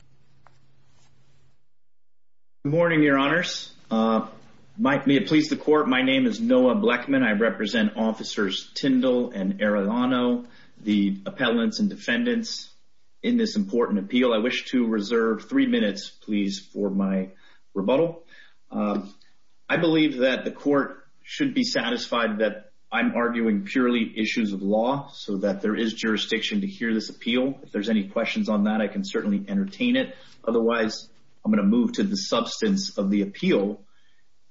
Noah Bleckman Good morning, Your Honors. May it please the Court, my name is Noah Bleckman. I represent Officers Tindle and Arellano, the appellants and defendants in this important appeal. I wish to reserve three minutes, please, for my rebuttal. I believe that the Court should be satisfied that I'm arguing purely issues of law so that there is jurisdiction to hear this appeal. If there's any questions on that, I can certainly entertain it. Otherwise, I'm going to move to the substance of the appeal.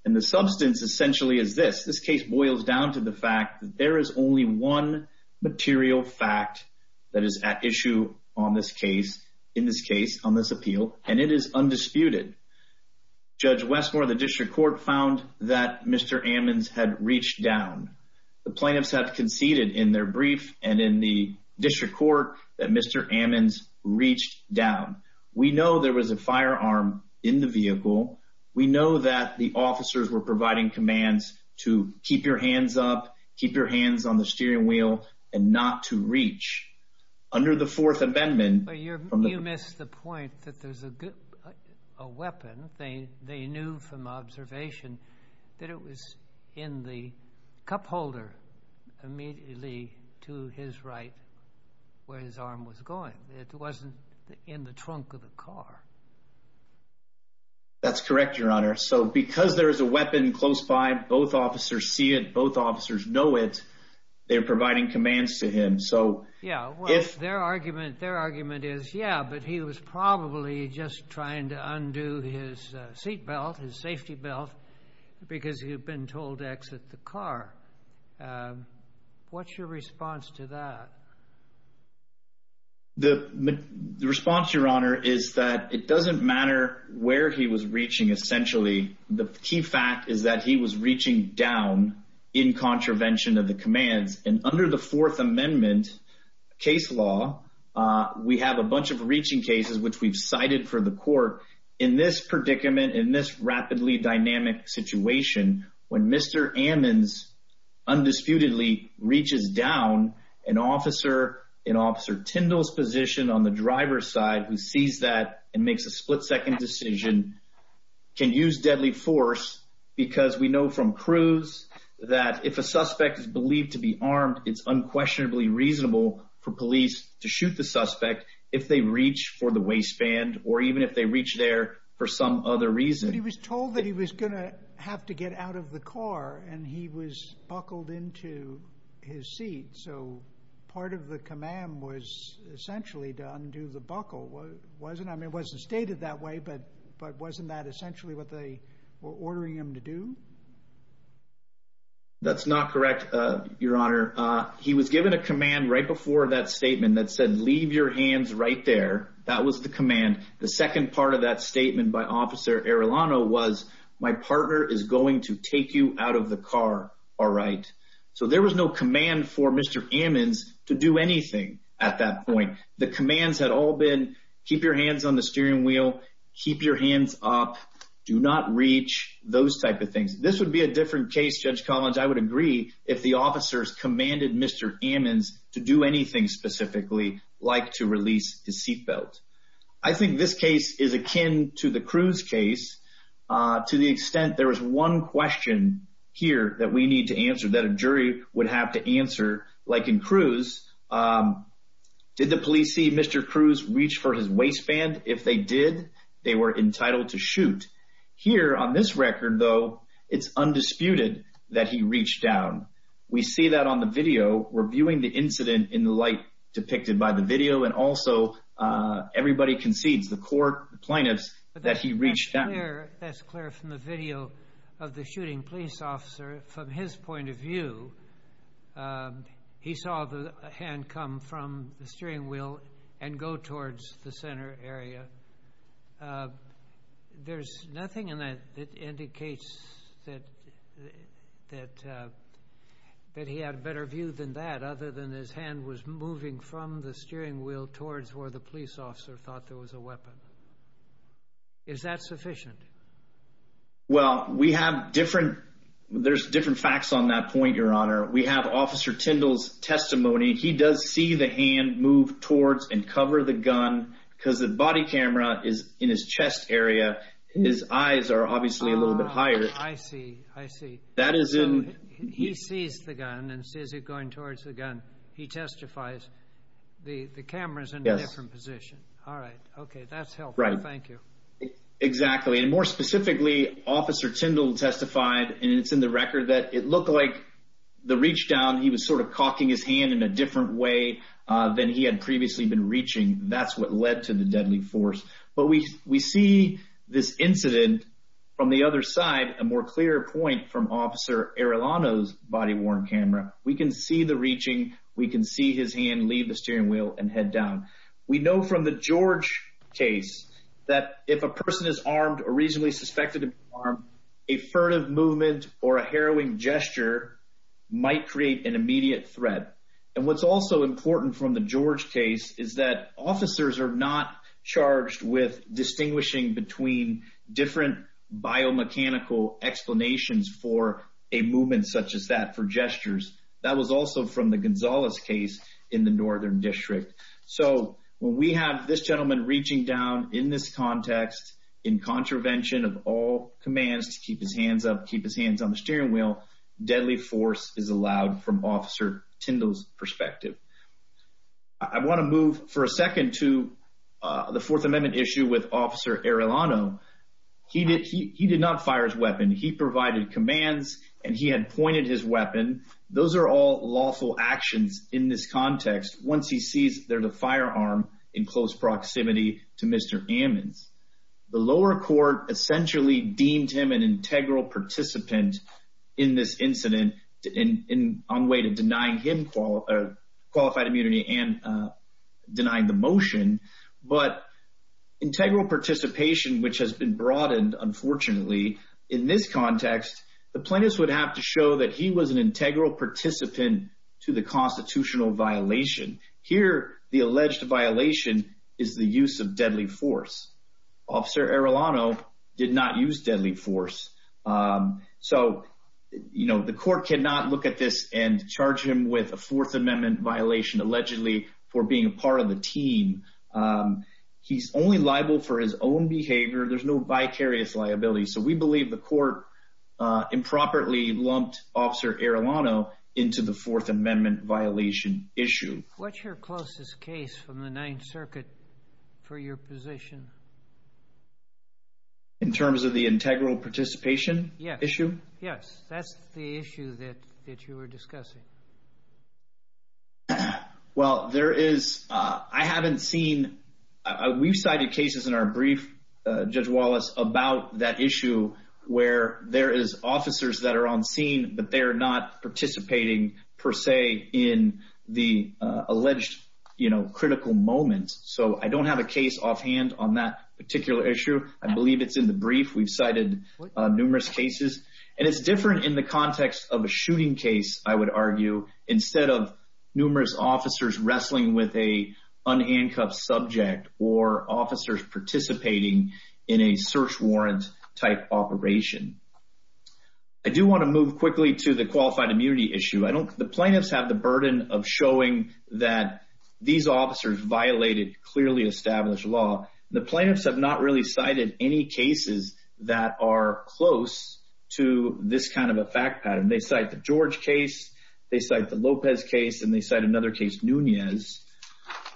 And the substance essentially is this. This case boils down to the fact that there is only one material fact that is at issue on this case, in this case, on this appeal, and it is undisputed. Judge Westmore of the District Court found that Mr. Amons had reached down. The plaintiffs have conceded in their brief and in the District Court that Mr. Amons reached down. We know there was a firearm in the vehicle. We know that the officers were providing commands to keep your hands up, keep your hands on the steering wheel, and not to reach. Under the Fourth Amendment... But you missed the point that there's a weapon. They knew from observation that it was in the cup holder immediately to his right where his arm was going. It wasn't in the trunk of the car. That's correct, Your Honor. So because there is a weapon close by, both officers see it, both officers know it, they're providing commands to him. So... Yeah, well, their argument is, yeah, but he was probably just trying to undo his seat belt, his safety belt, because he had been told to exit the car. What's your The response, Your Honor, is that it doesn't matter where he was reaching, essentially. The key fact is that he was reaching down in contravention of the commands. And under the Fourth Amendment case law, we have a bunch of reaching cases which we've cited for the court. In this predicament, in this rapidly dynamic situation, when Mr. Amons undisputedly reaches down, an officer in Officer Tyndall's position on the driver's side who sees that and makes a split-second decision can use deadly force because we know from Cruz that if a suspect is believed to be armed, it's unquestionably reasonable for police to shoot the suspect if they reach for the waistband or even if they reach there for some other reason. But he was told that he was buckled into his seat, so part of the command was essentially to undo the buckle, wasn't it? I mean, it wasn't stated that way, but wasn't that essentially what they were ordering him to do? That's not correct, Your Honor. He was given a command right before that statement that said, leave your hands right there. That was the command. The second part of that statement by Officer Arellano was, my partner is going to take you out of the car, all right? So there was no command for Mr. Amons to do anything at that point. The commands had all been keep your hands on the steering wheel, keep your hands up, do not reach, those type of things. This would be a different case, Judge Collins. I would agree if the officers commanded Mr. Amons to do anything specifically like to release his seatbelt. I think this case is akin to the Cruz case to the extent there was one question here that we need to answer, that a jury would have to answer, like in Cruz, did the police see Mr. Cruz reach for his waistband? If they did, they were entitled to shoot. Here on this record, though, it's undisputed that he reached down. We see that on the video. We're viewing the incident in the light depicted by the video, and also everybody concedes, the court, the plaintiffs, that he reached down. That's clear from the video of the shooting police officer. From his point of view, he saw the hand come from the steering wheel and go towards the center area. There's nothing in that that indicates that he had a better view than that, other than his hand was moving from the steering wheel towards where the police officer thought there was a weapon. Is that sufficient? Well, we have different, there's different facts on that point, Your Honor. We have Officer Tindall's testimony. He does see the hand move towards and cover the gun, because the body camera is in his chest area. His eyes are obviously a little bit higher. I see, I see. He sees the gun and sees it going towards the gun. He testifies, the camera's in a different position. All right, okay, that's helpful. Thank you. Exactly, and more specifically, Officer Tindall testified, and it's in the record, that it looked like the reach down, he was sort of cocking his hand in a different way than he had previously been reaching. That's what led to the deadly force. But we see this incident from the other side, a more clear point from Officer Arellano's body-worn camera. We can see the reaching, we can see his hand leave the steering wheel and head down. We know from the George case that if a person is armed or reasonably suspected to be armed, a furtive movement or a harrowing gesture might create an immediate threat. And what's also important from the George case is that officers are not charged with distinguishing between different biomechanical explanations for a movement such as that, for gestures. That was also from the Gonzalez case in the Northern District. So when we have this gentleman reaching down in this context, in contravention of all force is allowed from Officer Tindall's perspective. I want to move for a second to the Fourth Amendment issue with Officer Arellano. He did not fire his weapon. He provided commands and he had pointed his weapon. Those are all lawful actions in this context once he sees there's a firearm in close proximity to Mr. Ammons. The lower court essentially deemed him an integral participant in this incident on the way to denying him qualified immunity and denying the motion. But integral participation, which has been broadened, unfortunately, in this context, the plaintiffs would have to show that he was an integral participant to the constitutional violation. Here, the alleged violation is the use of deadly force. Officer Arellano did not use deadly force. So, you know, the court cannot look at this and charge him with a Fourth Amendment violation allegedly for being a part of the team. He's only liable for his own behavior. There's no vicarious liability. So we believe the court improperly lumped Officer Arellano into the Fourth Amendment violation issue. What's your closest case from the Ninth Circuit for your position? In terms of the integral participation issue? Yes. That's the issue that you were discussing. Well, there is, I haven't seen, we've cited cases in our brief, Judge Wallace, about that issue where there is officers that are on scene, but they're not participating per se in the alleged, you know, critical moment. So I don't have a case offhand on that particular issue. I believe it's in the brief. We've cited numerous cases. And it's different in the context of a shooting case, I would argue, instead of numerous officers wrestling with an unhandcuffed subject or officers participating in a search warrant type operation. I do want to move quickly to the qualified immunity issue. I don't, the plaintiffs have the burden of showing that these officers violated clearly established law. The plaintiffs have not really cited any cases that are close to this kind of a fact pattern. They cite the George case, they cite the Lopez case, and they cite another case, Nunez.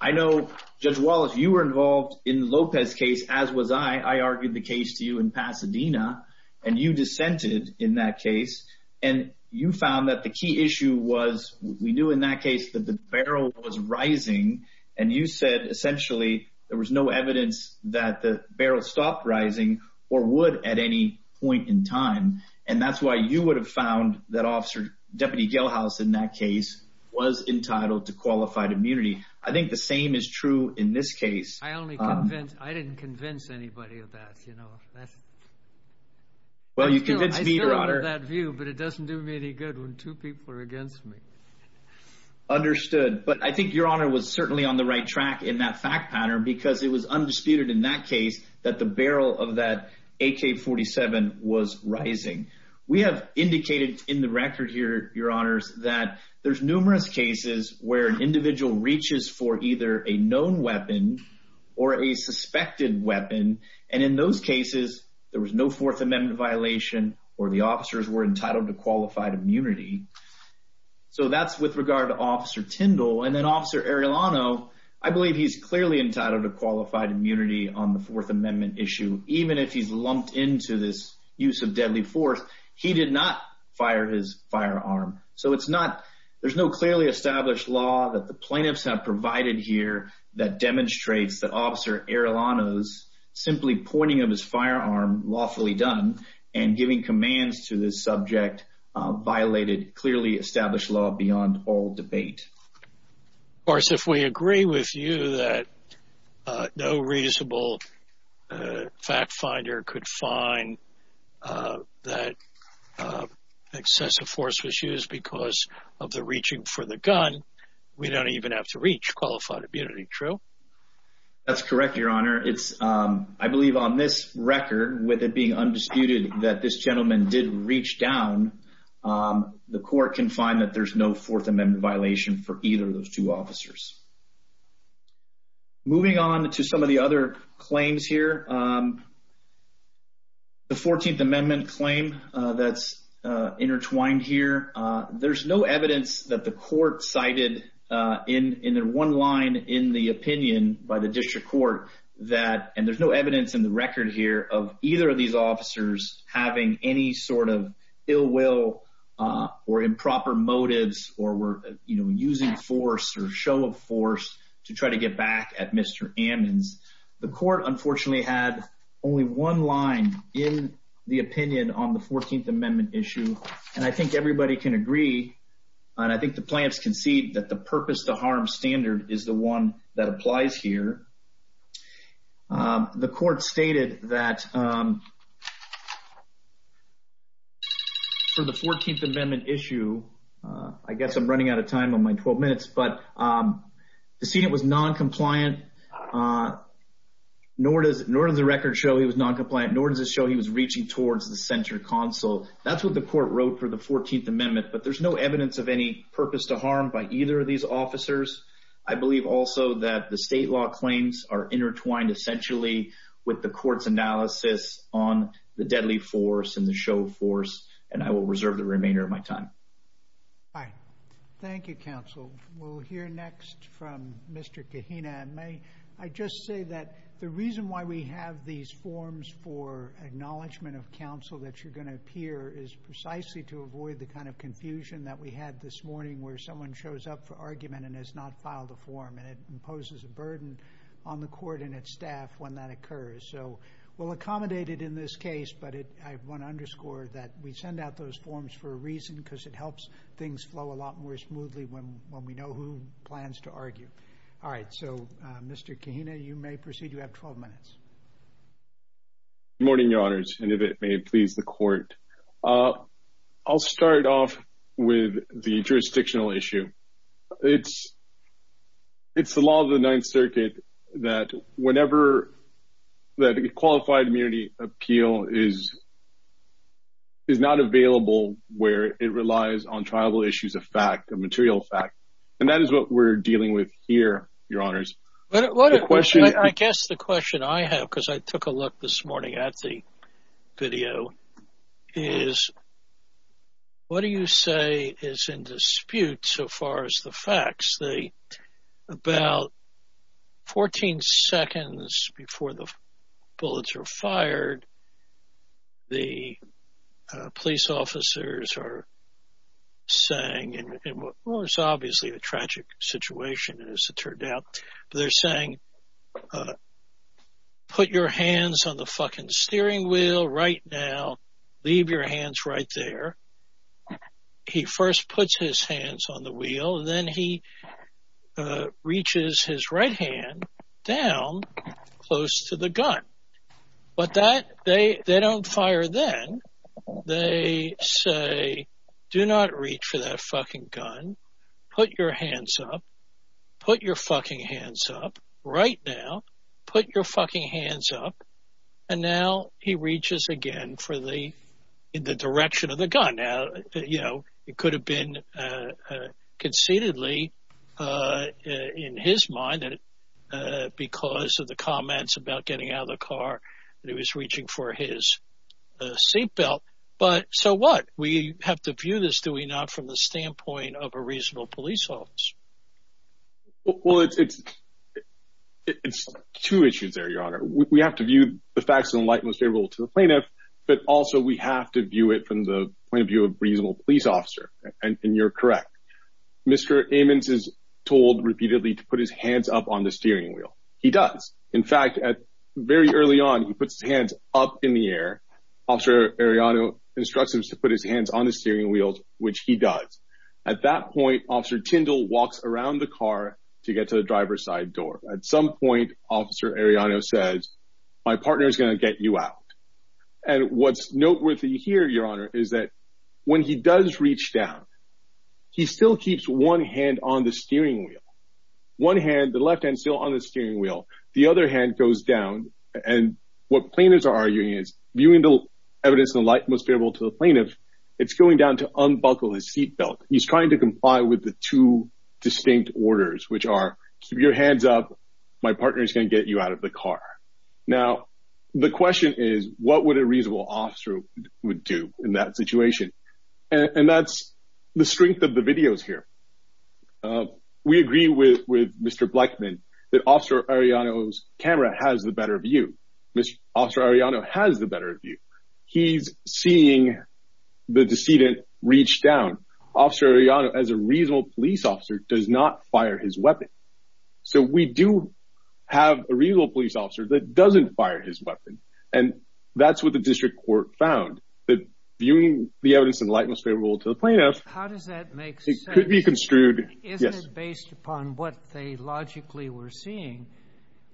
I know, Judge Wallace, you were involved in the Lopez case, as was I. I argued the case to you in Pasadena, and you dissented in that case. And you found that the key issue was, we knew in that case, that the barrel was rising. And you said, essentially, there was no evidence that the barrel stopped rising, or would at any point in time. And that's why you would have found that officer, Deputy Gelhaus, in that case, was entitled to qualified immunity. I think the same is true in this case. I only convinced, I didn't convince anybody of that, you know. Well, you convinced me, Your Honor. I still have that view, but it doesn't do me any good when two people are against me. Understood. But I think Your Honor was certainly on the right track in that fact pattern, because it was undisputed in that case that the barrel of that AK-47 was rising. We have indicated in the record here, Your Honors, that there's numerous cases where an individual reaches for either a known weapon or a suspected weapon. And in those cases, there was no Fourth Amendment violation, or the officers were entitled to qualified immunity. So that's with regard to Officer Tindall. And then Officer Arellano, I believe he's clearly entitled to qualified immunity on the Fourth Amendment issue, even if he's lumped into this use of deadly force. He did not fire his firearm. So it's not, there's no clearly established law that the plaintiffs have provided here that demonstrates that Officer Arellano's simply pointing of his firearm, lawfully done, and giving commands to this subject, violated clearly established law beyond all debate. Of course, if we agree with you that no reasonable fact finder could find that excessive force was used because of the reaching for the gun, we don't even have to reach qualified immunity. True? That's correct, Your Honor. It's, I believe on this record, with it being undisputed that this gentleman did reach down, the court can find that there's no Fourth Amendment violation for either of those two officers. Moving on to some of the other claims here. The Fourteenth Amendment claim that's intertwined here, there's no evidence that the court cited in their one line in the opinion by the district court that, and there's no evidence in the record here of either of these officers having any sort of ill will or improper motives or were, you know, using force or show of force to try to get back at Mr. Ammons. The court, unfortunately, had only one line in the opinion on the Fourteenth Amendment issue, and I think everybody can agree, and I think the plaintiffs can see that the purpose to harm standard is the on my 12 minutes, but the sentence was noncompliant, nor does the record show he was noncompliant, nor does it show he was reaching towards the center console. That's what the court wrote for the Fourteenth Amendment, but there's no evidence of any purpose to harm by either of these officers. I believe also that the state law claims are intertwined essentially with the court's analysis on the deadly force and the show of force, and I will reserve the remainder of my time. Thank you, Counsel. We'll hear next from Mr. Kahina. I just say that the reason why we have these forms for acknowledgement of counsel that you're going to appear is precisely to avoid the kind of confusion that we had this morning where someone shows up for argument and has not filed a form, and it imposes a burden on the court and its staff when that occurs. So we'll accommodate it in this case, but I want to underscore that we send out those forms for a reason because it helps things flow a lot more smoothly when we know who plans to argue. All right, so Mr. Kahina, you may proceed. You have 12 minutes. Good morning, Your Honors, and if it may please the court. I'll start off with the jurisdictional issue. It's the law of the Ninth Circuit that whenever that qualified immunity appeal is not available where it relies on tribal issues of fact, a material fact, and that is what we're dealing with here, Your Honors. I guess the question I have, because I took a look this morning at the video, is what do you say is in dispute so far as the facts? About 14 seconds before the bullets are fired, the police officers are saying, and it's obviously a tragic situation as it turned out, they're saying, put your hands on the fucking steering wheel right now. Leave your hands right there. He first puts his hands on the wheel, then he reaches his right hand down close to the gun, but they don't fire then. They say, do not reach for that fucking gun. Put your hands up. Put your fucking hands up right now. Put your fucking hands up, and now he reaches again for the direction of the gun. It could have been conceitedly in his mind because of the comments about getting out of the car that he was reaching for his seatbelt, but so what? We have to view this, do we not, from the standpoint of a reasonable police office? Well, it's two issues your honor. We have to view the facts in the light most favorable to the plaintiff, but also we have to view it from the point of view of a reasonable police officer, and you're correct. Mr. Ammons is told repeatedly to put his hands up on the steering wheel. He does. In fact, at very early on, he puts his hands up in the air. Officer Arellano instructs him to put his hands on the steering wheel, which he does. At that point, Officer Tyndall walks around the car to get to the car. Officer Arellano says, my partner is going to get you out, and what's noteworthy here, your honor, is that when he does reach down, he still keeps one hand on the steering wheel. One hand, the left hand still on the steering wheel. The other hand goes down, and what plaintiffs are arguing is, viewing the evidence in the light most favorable to the plaintiff, it's going down to unbuckle his seatbelt. He's trying to comply with the two distinct orders, which are keep your hands up, my partner is going to get you out of the car. Now, the question is, what would a reasonable officer would do in that situation? And that's the strength of the videos here. We agree with Mr. Blechman that Officer Arellano's camera has the better view. Mr. Officer Arellano has the better view. He's seeing the decedent reach down. Officer Arellano, as a reasonable police officer, does not fire his weapon. So, we do have a reasonable police officer that doesn't fire his weapon, and that's what the district court found, that viewing the evidence in the light most favorable to the plaintiff... How does that make sense? It could be construed... Isn't it based upon what they logically were seeing?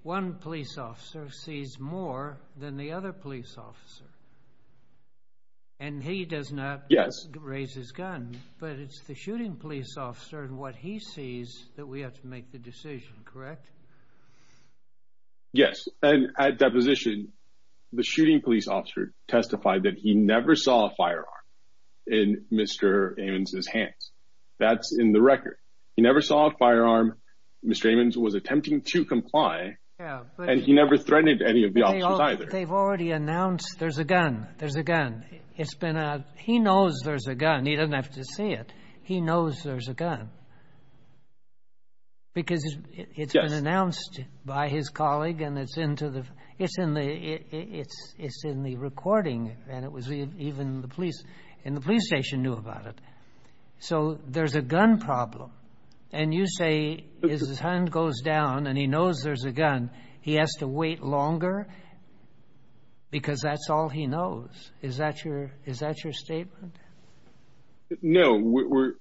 One police officer sees more than the other police officer, and he does not raise his gun, but it's the shooting police officer and what he sees that we have to make the decision, correct? Yes, and at deposition, the shooting police officer testified that he never saw a firearm in Mr. Ammons' hands. That's in the record. He never saw a firearm. Mr. Ammons was attempting to comply, and he never threatened any of the officers either. They've already announced there's a gun. There's a gun. He knows there's a gun. He doesn't have to see it. He knows there's a gun because it's been announced by his colleague, and it's in the recording, and even the police in the police station knew about it. So, there's a gun problem, and you say his hand goes down, and he knows there's a gun. He has to wait longer because that's all he knows. Is that your statement? No. We're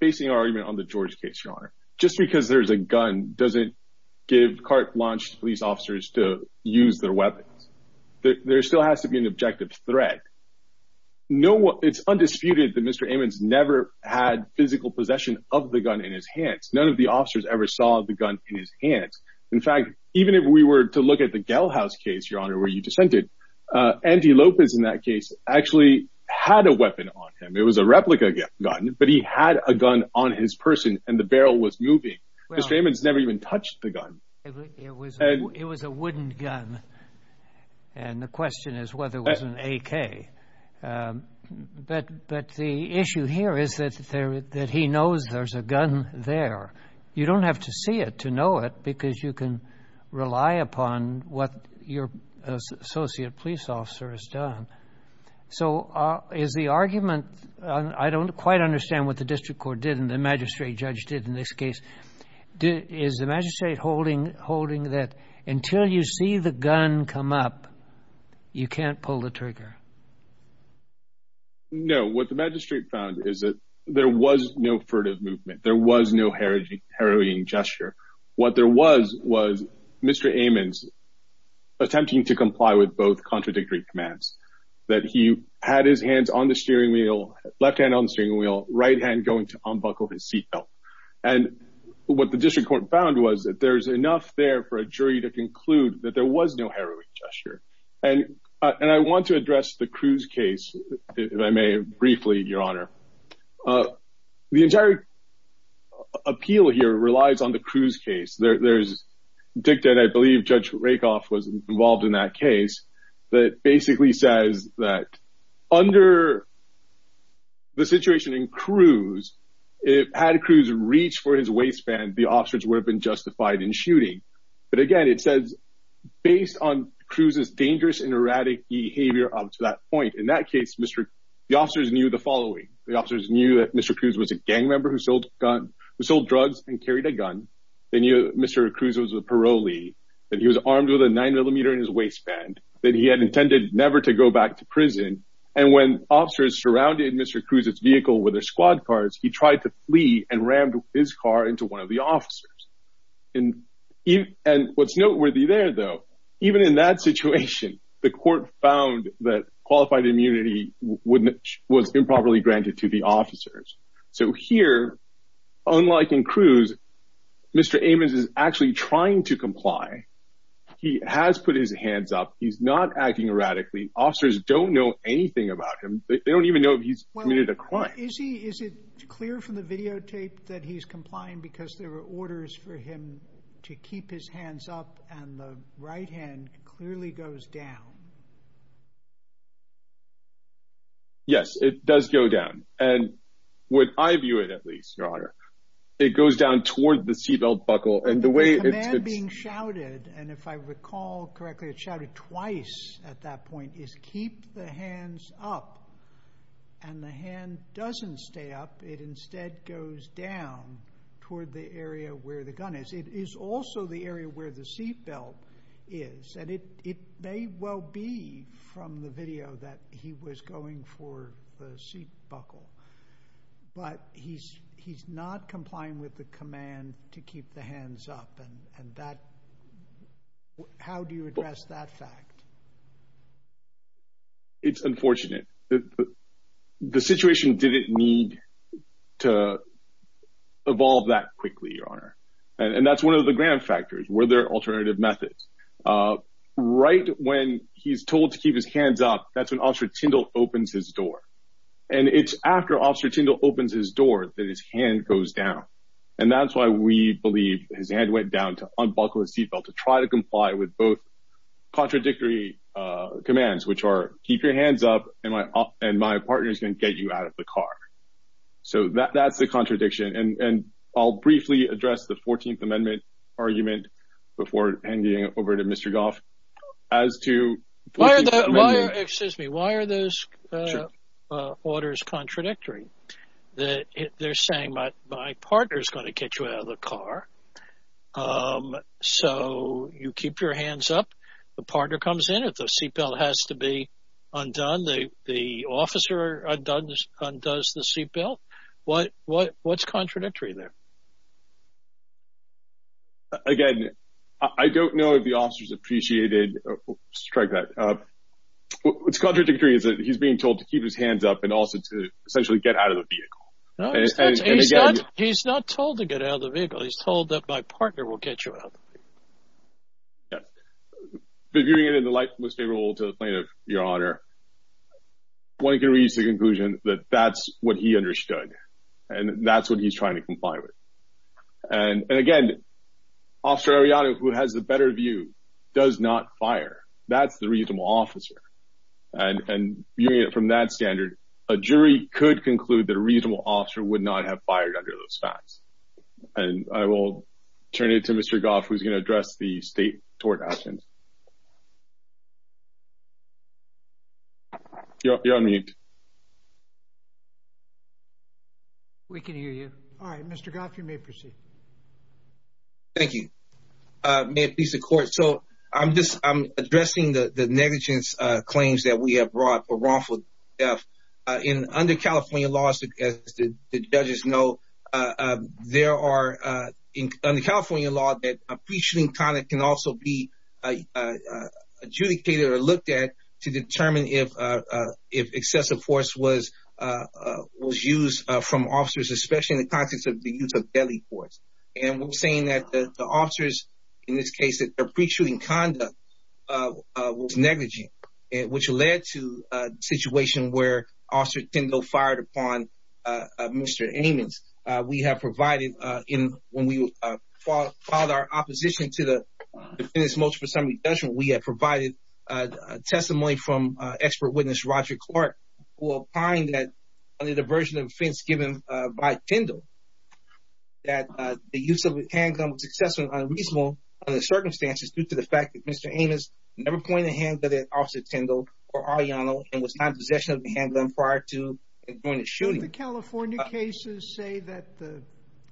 basing our argument on the George case, Your Honor. Just because there's a gun doesn't give carte blanche police officers to use their weapons. There still has to be an objective threat. It's undisputed that Mr. Ammons never had physical possession of the gun in his hands. None of the officers ever saw the gun in his hands. In fact, even if we were to look at the Gell House case, Your Honor, where you dissented, Andy Lopez in that case actually had a weapon on him. It was a replica gun, but he had a gun on his person, and the barrel was moving. Mr. Ammons never even had an AK. But the issue here is that he knows there's a gun there. You don't have to see it to know it because you can rely upon what your associate police officer has done. So, is the argument, I don't quite understand what the district court did and the magistrate judge did in this case. Is the magistrate holding that until you see the gun come up, you can't pull the trigger? No, what the magistrate found is that there was no furtive movement. There was no harrowing gesture. What there was was Mr. Ammons attempting to comply with both contradictory commands. That he had his hands on the steering wheel, left hand on the steering wheel, right hand going to unbuckle his seat belt. And what the district court found was that there's enough there for a jury to conclude that there was no harrowing gesture. And I want to address the Cruz case, if I may briefly, your honor. The entire appeal here relies on the Cruz case. There's dicta, and I believe Judge Rakoff was involved in that case, that basically says that under the situation in Cruz, had Cruz reached for his waistband, the officers would have been justified in shooting. But again, it says based on Cruz's dangerous and erratic behavior up to that point, in that case, the officers knew the following. The officers knew that Mr. Cruz was a gang member who sold drugs and carried a gun. They knew Mr. Cruz was a parolee, that he was armed with a nine millimeter in his waistband, that he had intended never to go back to prison. And when officers surrounded Mr. Cruz's vehicle with their squad cars, he tried to flee and rammed his car into one of the officers. And what's noteworthy there, though, even in that situation, the court found that qualified immunity was improperly granted to the officers. So here, unlike in Cruz, Mr. Amos is actually trying to comply. He has put his hands up. He's not acting erratically. Officers don't know anything about him. They don't even know if he's committed a crime. Is it clear from the videotape that he's complying because there were orders for him to keep his hands up and the right hand clearly goes down? Yes, it does go down. And when I view it, at least, Your Honor, it goes down toward the seatbelt buckle. And the way it's been shouted, and if I recall correctly, it shouted twice at that point, is keep the hands up. And the hand doesn't stay up. It instead goes down toward the area where the gun is. It is also the area where the seatbelt is. And it may well be from the video that he was going for the seat buckle. But he's not complying with the command to keep the hands up. How do you address that fact? It's unfortunate. The situation didn't need to evolve that quickly, Your Honor. And that's one of the grand factors. Were there alternative methods? Right when he's told to keep his hands up, that's when Officer Tyndall opens his door. And it's after Officer Tyndall opens his door that his hand goes down. And that's why we believe his hand went down to unbuckle his seatbelt to try to comply with both contradictory commands, which are keep your hands up and my partner's going to get you out of the car. So that's the contradiction. And I'll briefly address the 14th Amendment argument before handing it over to Mr. Goff as to... Excuse me. Why are those orders contradictory? They're saying my partner is going to get you out of the car. So you keep your hands up. The partner comes in. If the seatbelt has to be undone, the officer undoes the seatbelt. What's contradictory there? Again, I don't know if the officer's appreciated. Strike that. What's contradictory is that he's being told to keep his hands up and also to essentially get out of the vehicle. No, he's not told to get out of the vehicle. He's told that my partner will get you out of the vehicle. Yes. But viewing it in the light most favorable to the plaintiff, Your Honor, one can reach the conclusion that that's what he understood. And that's what he's trying to assert. And again, Officer Arellano, who has the better view, does not fire. That's the reasonable officer. And viewing it from that standard, a jury could conclude that a reasonable officer would not have fired under those facts. And I will turn it to Mr. Goff, who's going to address the state tort actions. You're on mute. We can hear you. All right, Mr. Goff, you may proceed. Thank you. May it please the court. So I'm addressing the negligence claims that we have brought for wrongful death. Under California law, as the judges know, there are, under California law, that a pre-shooting conduct can also be adjudicated or looked at to determine if excessive force was used from officers, especially in the context of the use of deadly force. And we're saying that the officers, in this case, that their pre-shooting conduct was negligent, which led to a situation where Officer Tindall fired upon Mr. Ammons. We have provided, when we filed our opposition to the Defendant's Multiple Assembly Judgment, we have provided testimony from expert witness Roger Clark, who opined that, under the version of offense given by Tindall, that the use of the handgun was excessive and unreasonable under the circumstances due to the fact that Mr. Ammons never pointed a hand at Officer Tindall or Ariano and was not in possession of the handgun prior to and during the shooting. Do the California cases say that the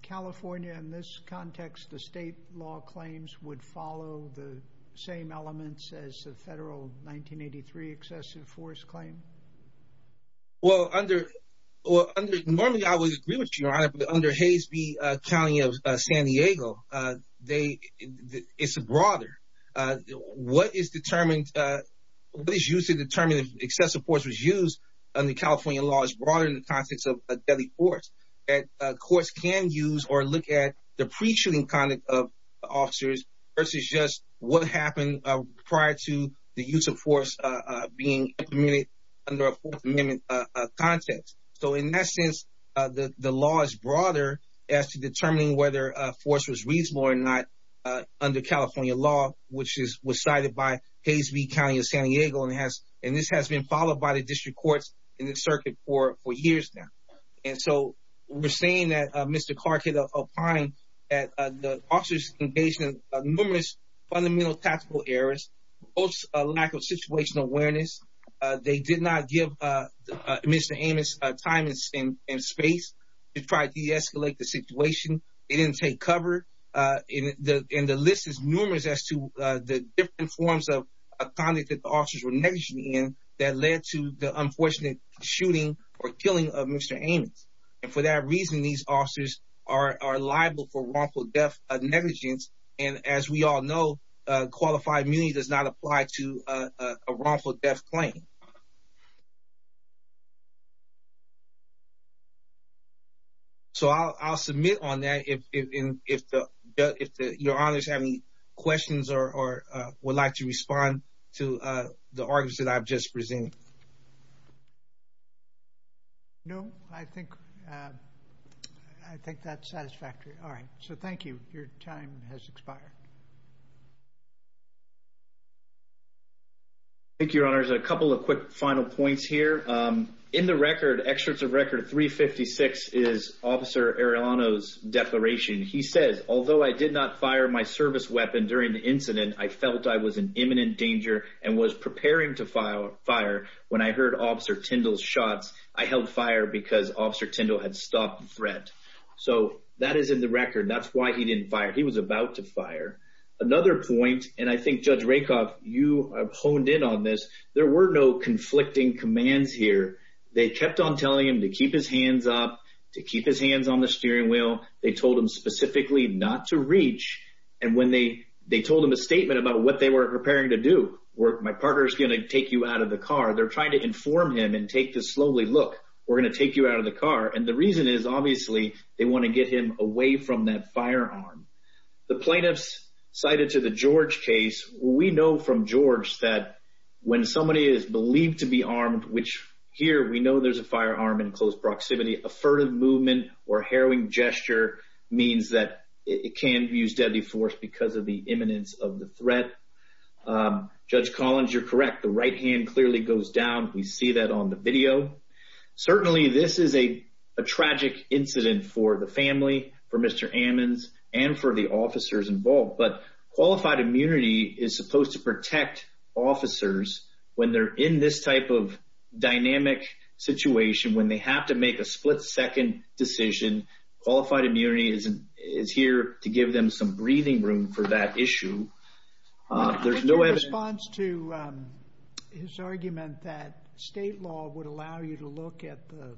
California, in this context, the state law claims would follow the same elements as the federal 1983 excessive force claim? Well, normally I would agree with you, Your Honor, but under Hays v. County of San Diego, it's broader. What is used to determine if excessive force was used under California law is broader in the context of deadly force. Courts can use or look at the pre-shooting conduct of the Fourth Amendment context. So, in that sense, the law is broader as to determining whether force was reasonable or not under California law, which was cited by Hays v. County of San Diego, and this has been followed by the district courts in the circuit for years now. And so, we're saying that Mr. Clark had opined that the officers engaged in numerous fundamental tactical errors, lack of situational awareness. They did not give Mr. Ammons time and space to try to de-escalate the situation. They didn't take cover, and the list is numerous as to the different forms of conduct that the officers were negligent in that led to the unfortunate shooting or killing of Mr. Ammons. And for that reason, these officers are liable for wrongful death negligence and, as we all know, qualified immunity does not apply to a wrongful death claim. So, I'll submit on that if your honors have any questions or would like to respond to the arguments that I've just presented. No, I think that's satisfactory. All right. So, thank you. Your time has expired. Thank you, your honors. A couple of quick final points here. In the record, excerpts of record 356 is Officer Arellano's declaration. He says, although I did not fire my service weapon during the incident, I felt I was in imminent danger and was preparing to fire when I heard Officer Tindall's shots. I held fire because Officer Tindall had stopped the threat. So, that is in record. That's why he didn't fire. He was about to fire. Another point, and I think Judge Rakoff, you honed in on this, there were no conflicting commands here. They kept on telling him to keep his hands up, to keep his hands on the steering wheel. They told him specifically not to reach. And when they told him a statement about what they were preparing to do, where my partner is going to take you out of the car, they're trying to inform him and take this slowly, look, we're obviously, they want to get him away from that firearm. The plaintiffs cited to the George case, we know from George that when somebody is believed to be armed, which here we know there's a firearm in close proximity, a furtive movement or harrowing gesture means that it can use deadly force because of the imminence of the threat. Judge Collins, you're correct. The right hand clearly goes down. We see that on the video. Certainly, this is a tragic incident for the family, for Mr. Ammons, and for the officers involved. But qualified immunity is supposed to protect officers when they're in this type of dynamic situation, when they have to make a split-second decision. Qualified immunity is here to give them some breathing room for that issue. In response to his argument that state law would allow you to look at the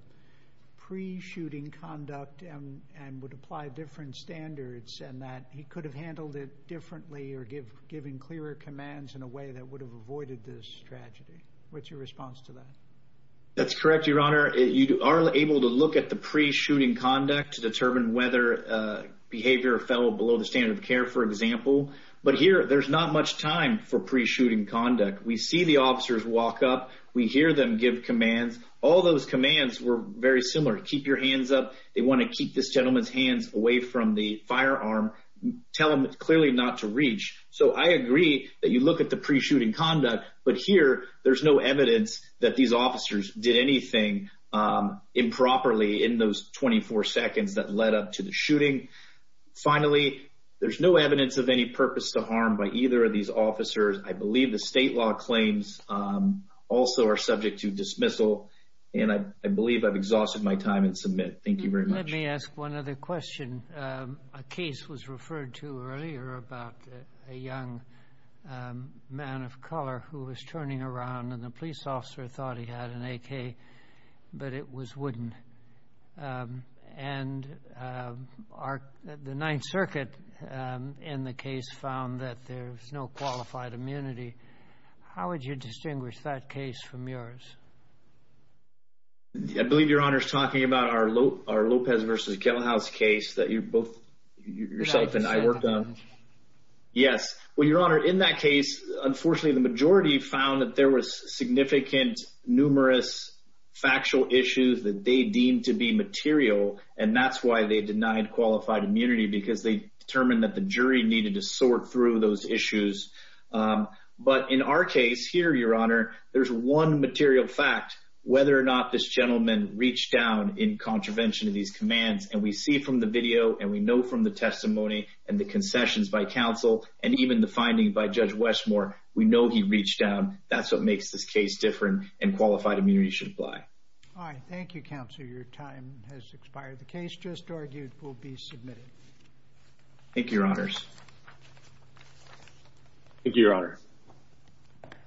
pre-shooting conduct and would apply different standards, and that he could have handled it differently or given clearer commands in a way that would have avoided this tragedy. What's your response to that? That's correct, Your Honor. You are able to look at the pre-shooting conduct to determine whether behavior fell below the standard of care, for example. But here, there's not much time for pre-shooting conduct. We see the officers walk up. We hear them give commands. All those commands were very similar. Keep your hands up. They want to keep this gentleman's hands away from the firearm. Tell him clearly not to reach. So I agree that you look at the pre-shooting conduct. But here, there's no evidence that these officers did anything improperly in those 24 seconds that led up to the shooting. Finally, there's no evidence of any purpose to harm by either of these officers. I believe the state law claims also are subject to dismissal. And I believe I've exhausted my time in submit. Thank you very much. Let me ask one other question. A case was referred to earlier about a young man of color who was turning around, and the police officer thought he had an AK, but it was wooden. And the Ninth Circuit in the case found that there's no qualified immunity. How would you distinguish that case from yours? I believe Your Honor is talking about our Lopez versus Kettlehouse case that you both, yourself and I worked on. Yes. Well, Your Honor, in that case, unfortunately, the majority found that there was significant, numerous factual issues that they deemed to be material. And that's why they denied qualified immunity because they determined that the jury needed to sort through those issues. But in our case here, Your Honor, there's one material fact, whether or not this gentleman reached down in contravention of these commands. And we see from the video and we know from the testimony and the concessions by counsel and even the finding by Judge Westmore, we know he reached down. That's what makes this case different and qualified immunity should apply. All right. Thank you, Counselor. Your time has expired. The case just argued will be submitted. Thank you, Your Honors. Thank you, Your Honor.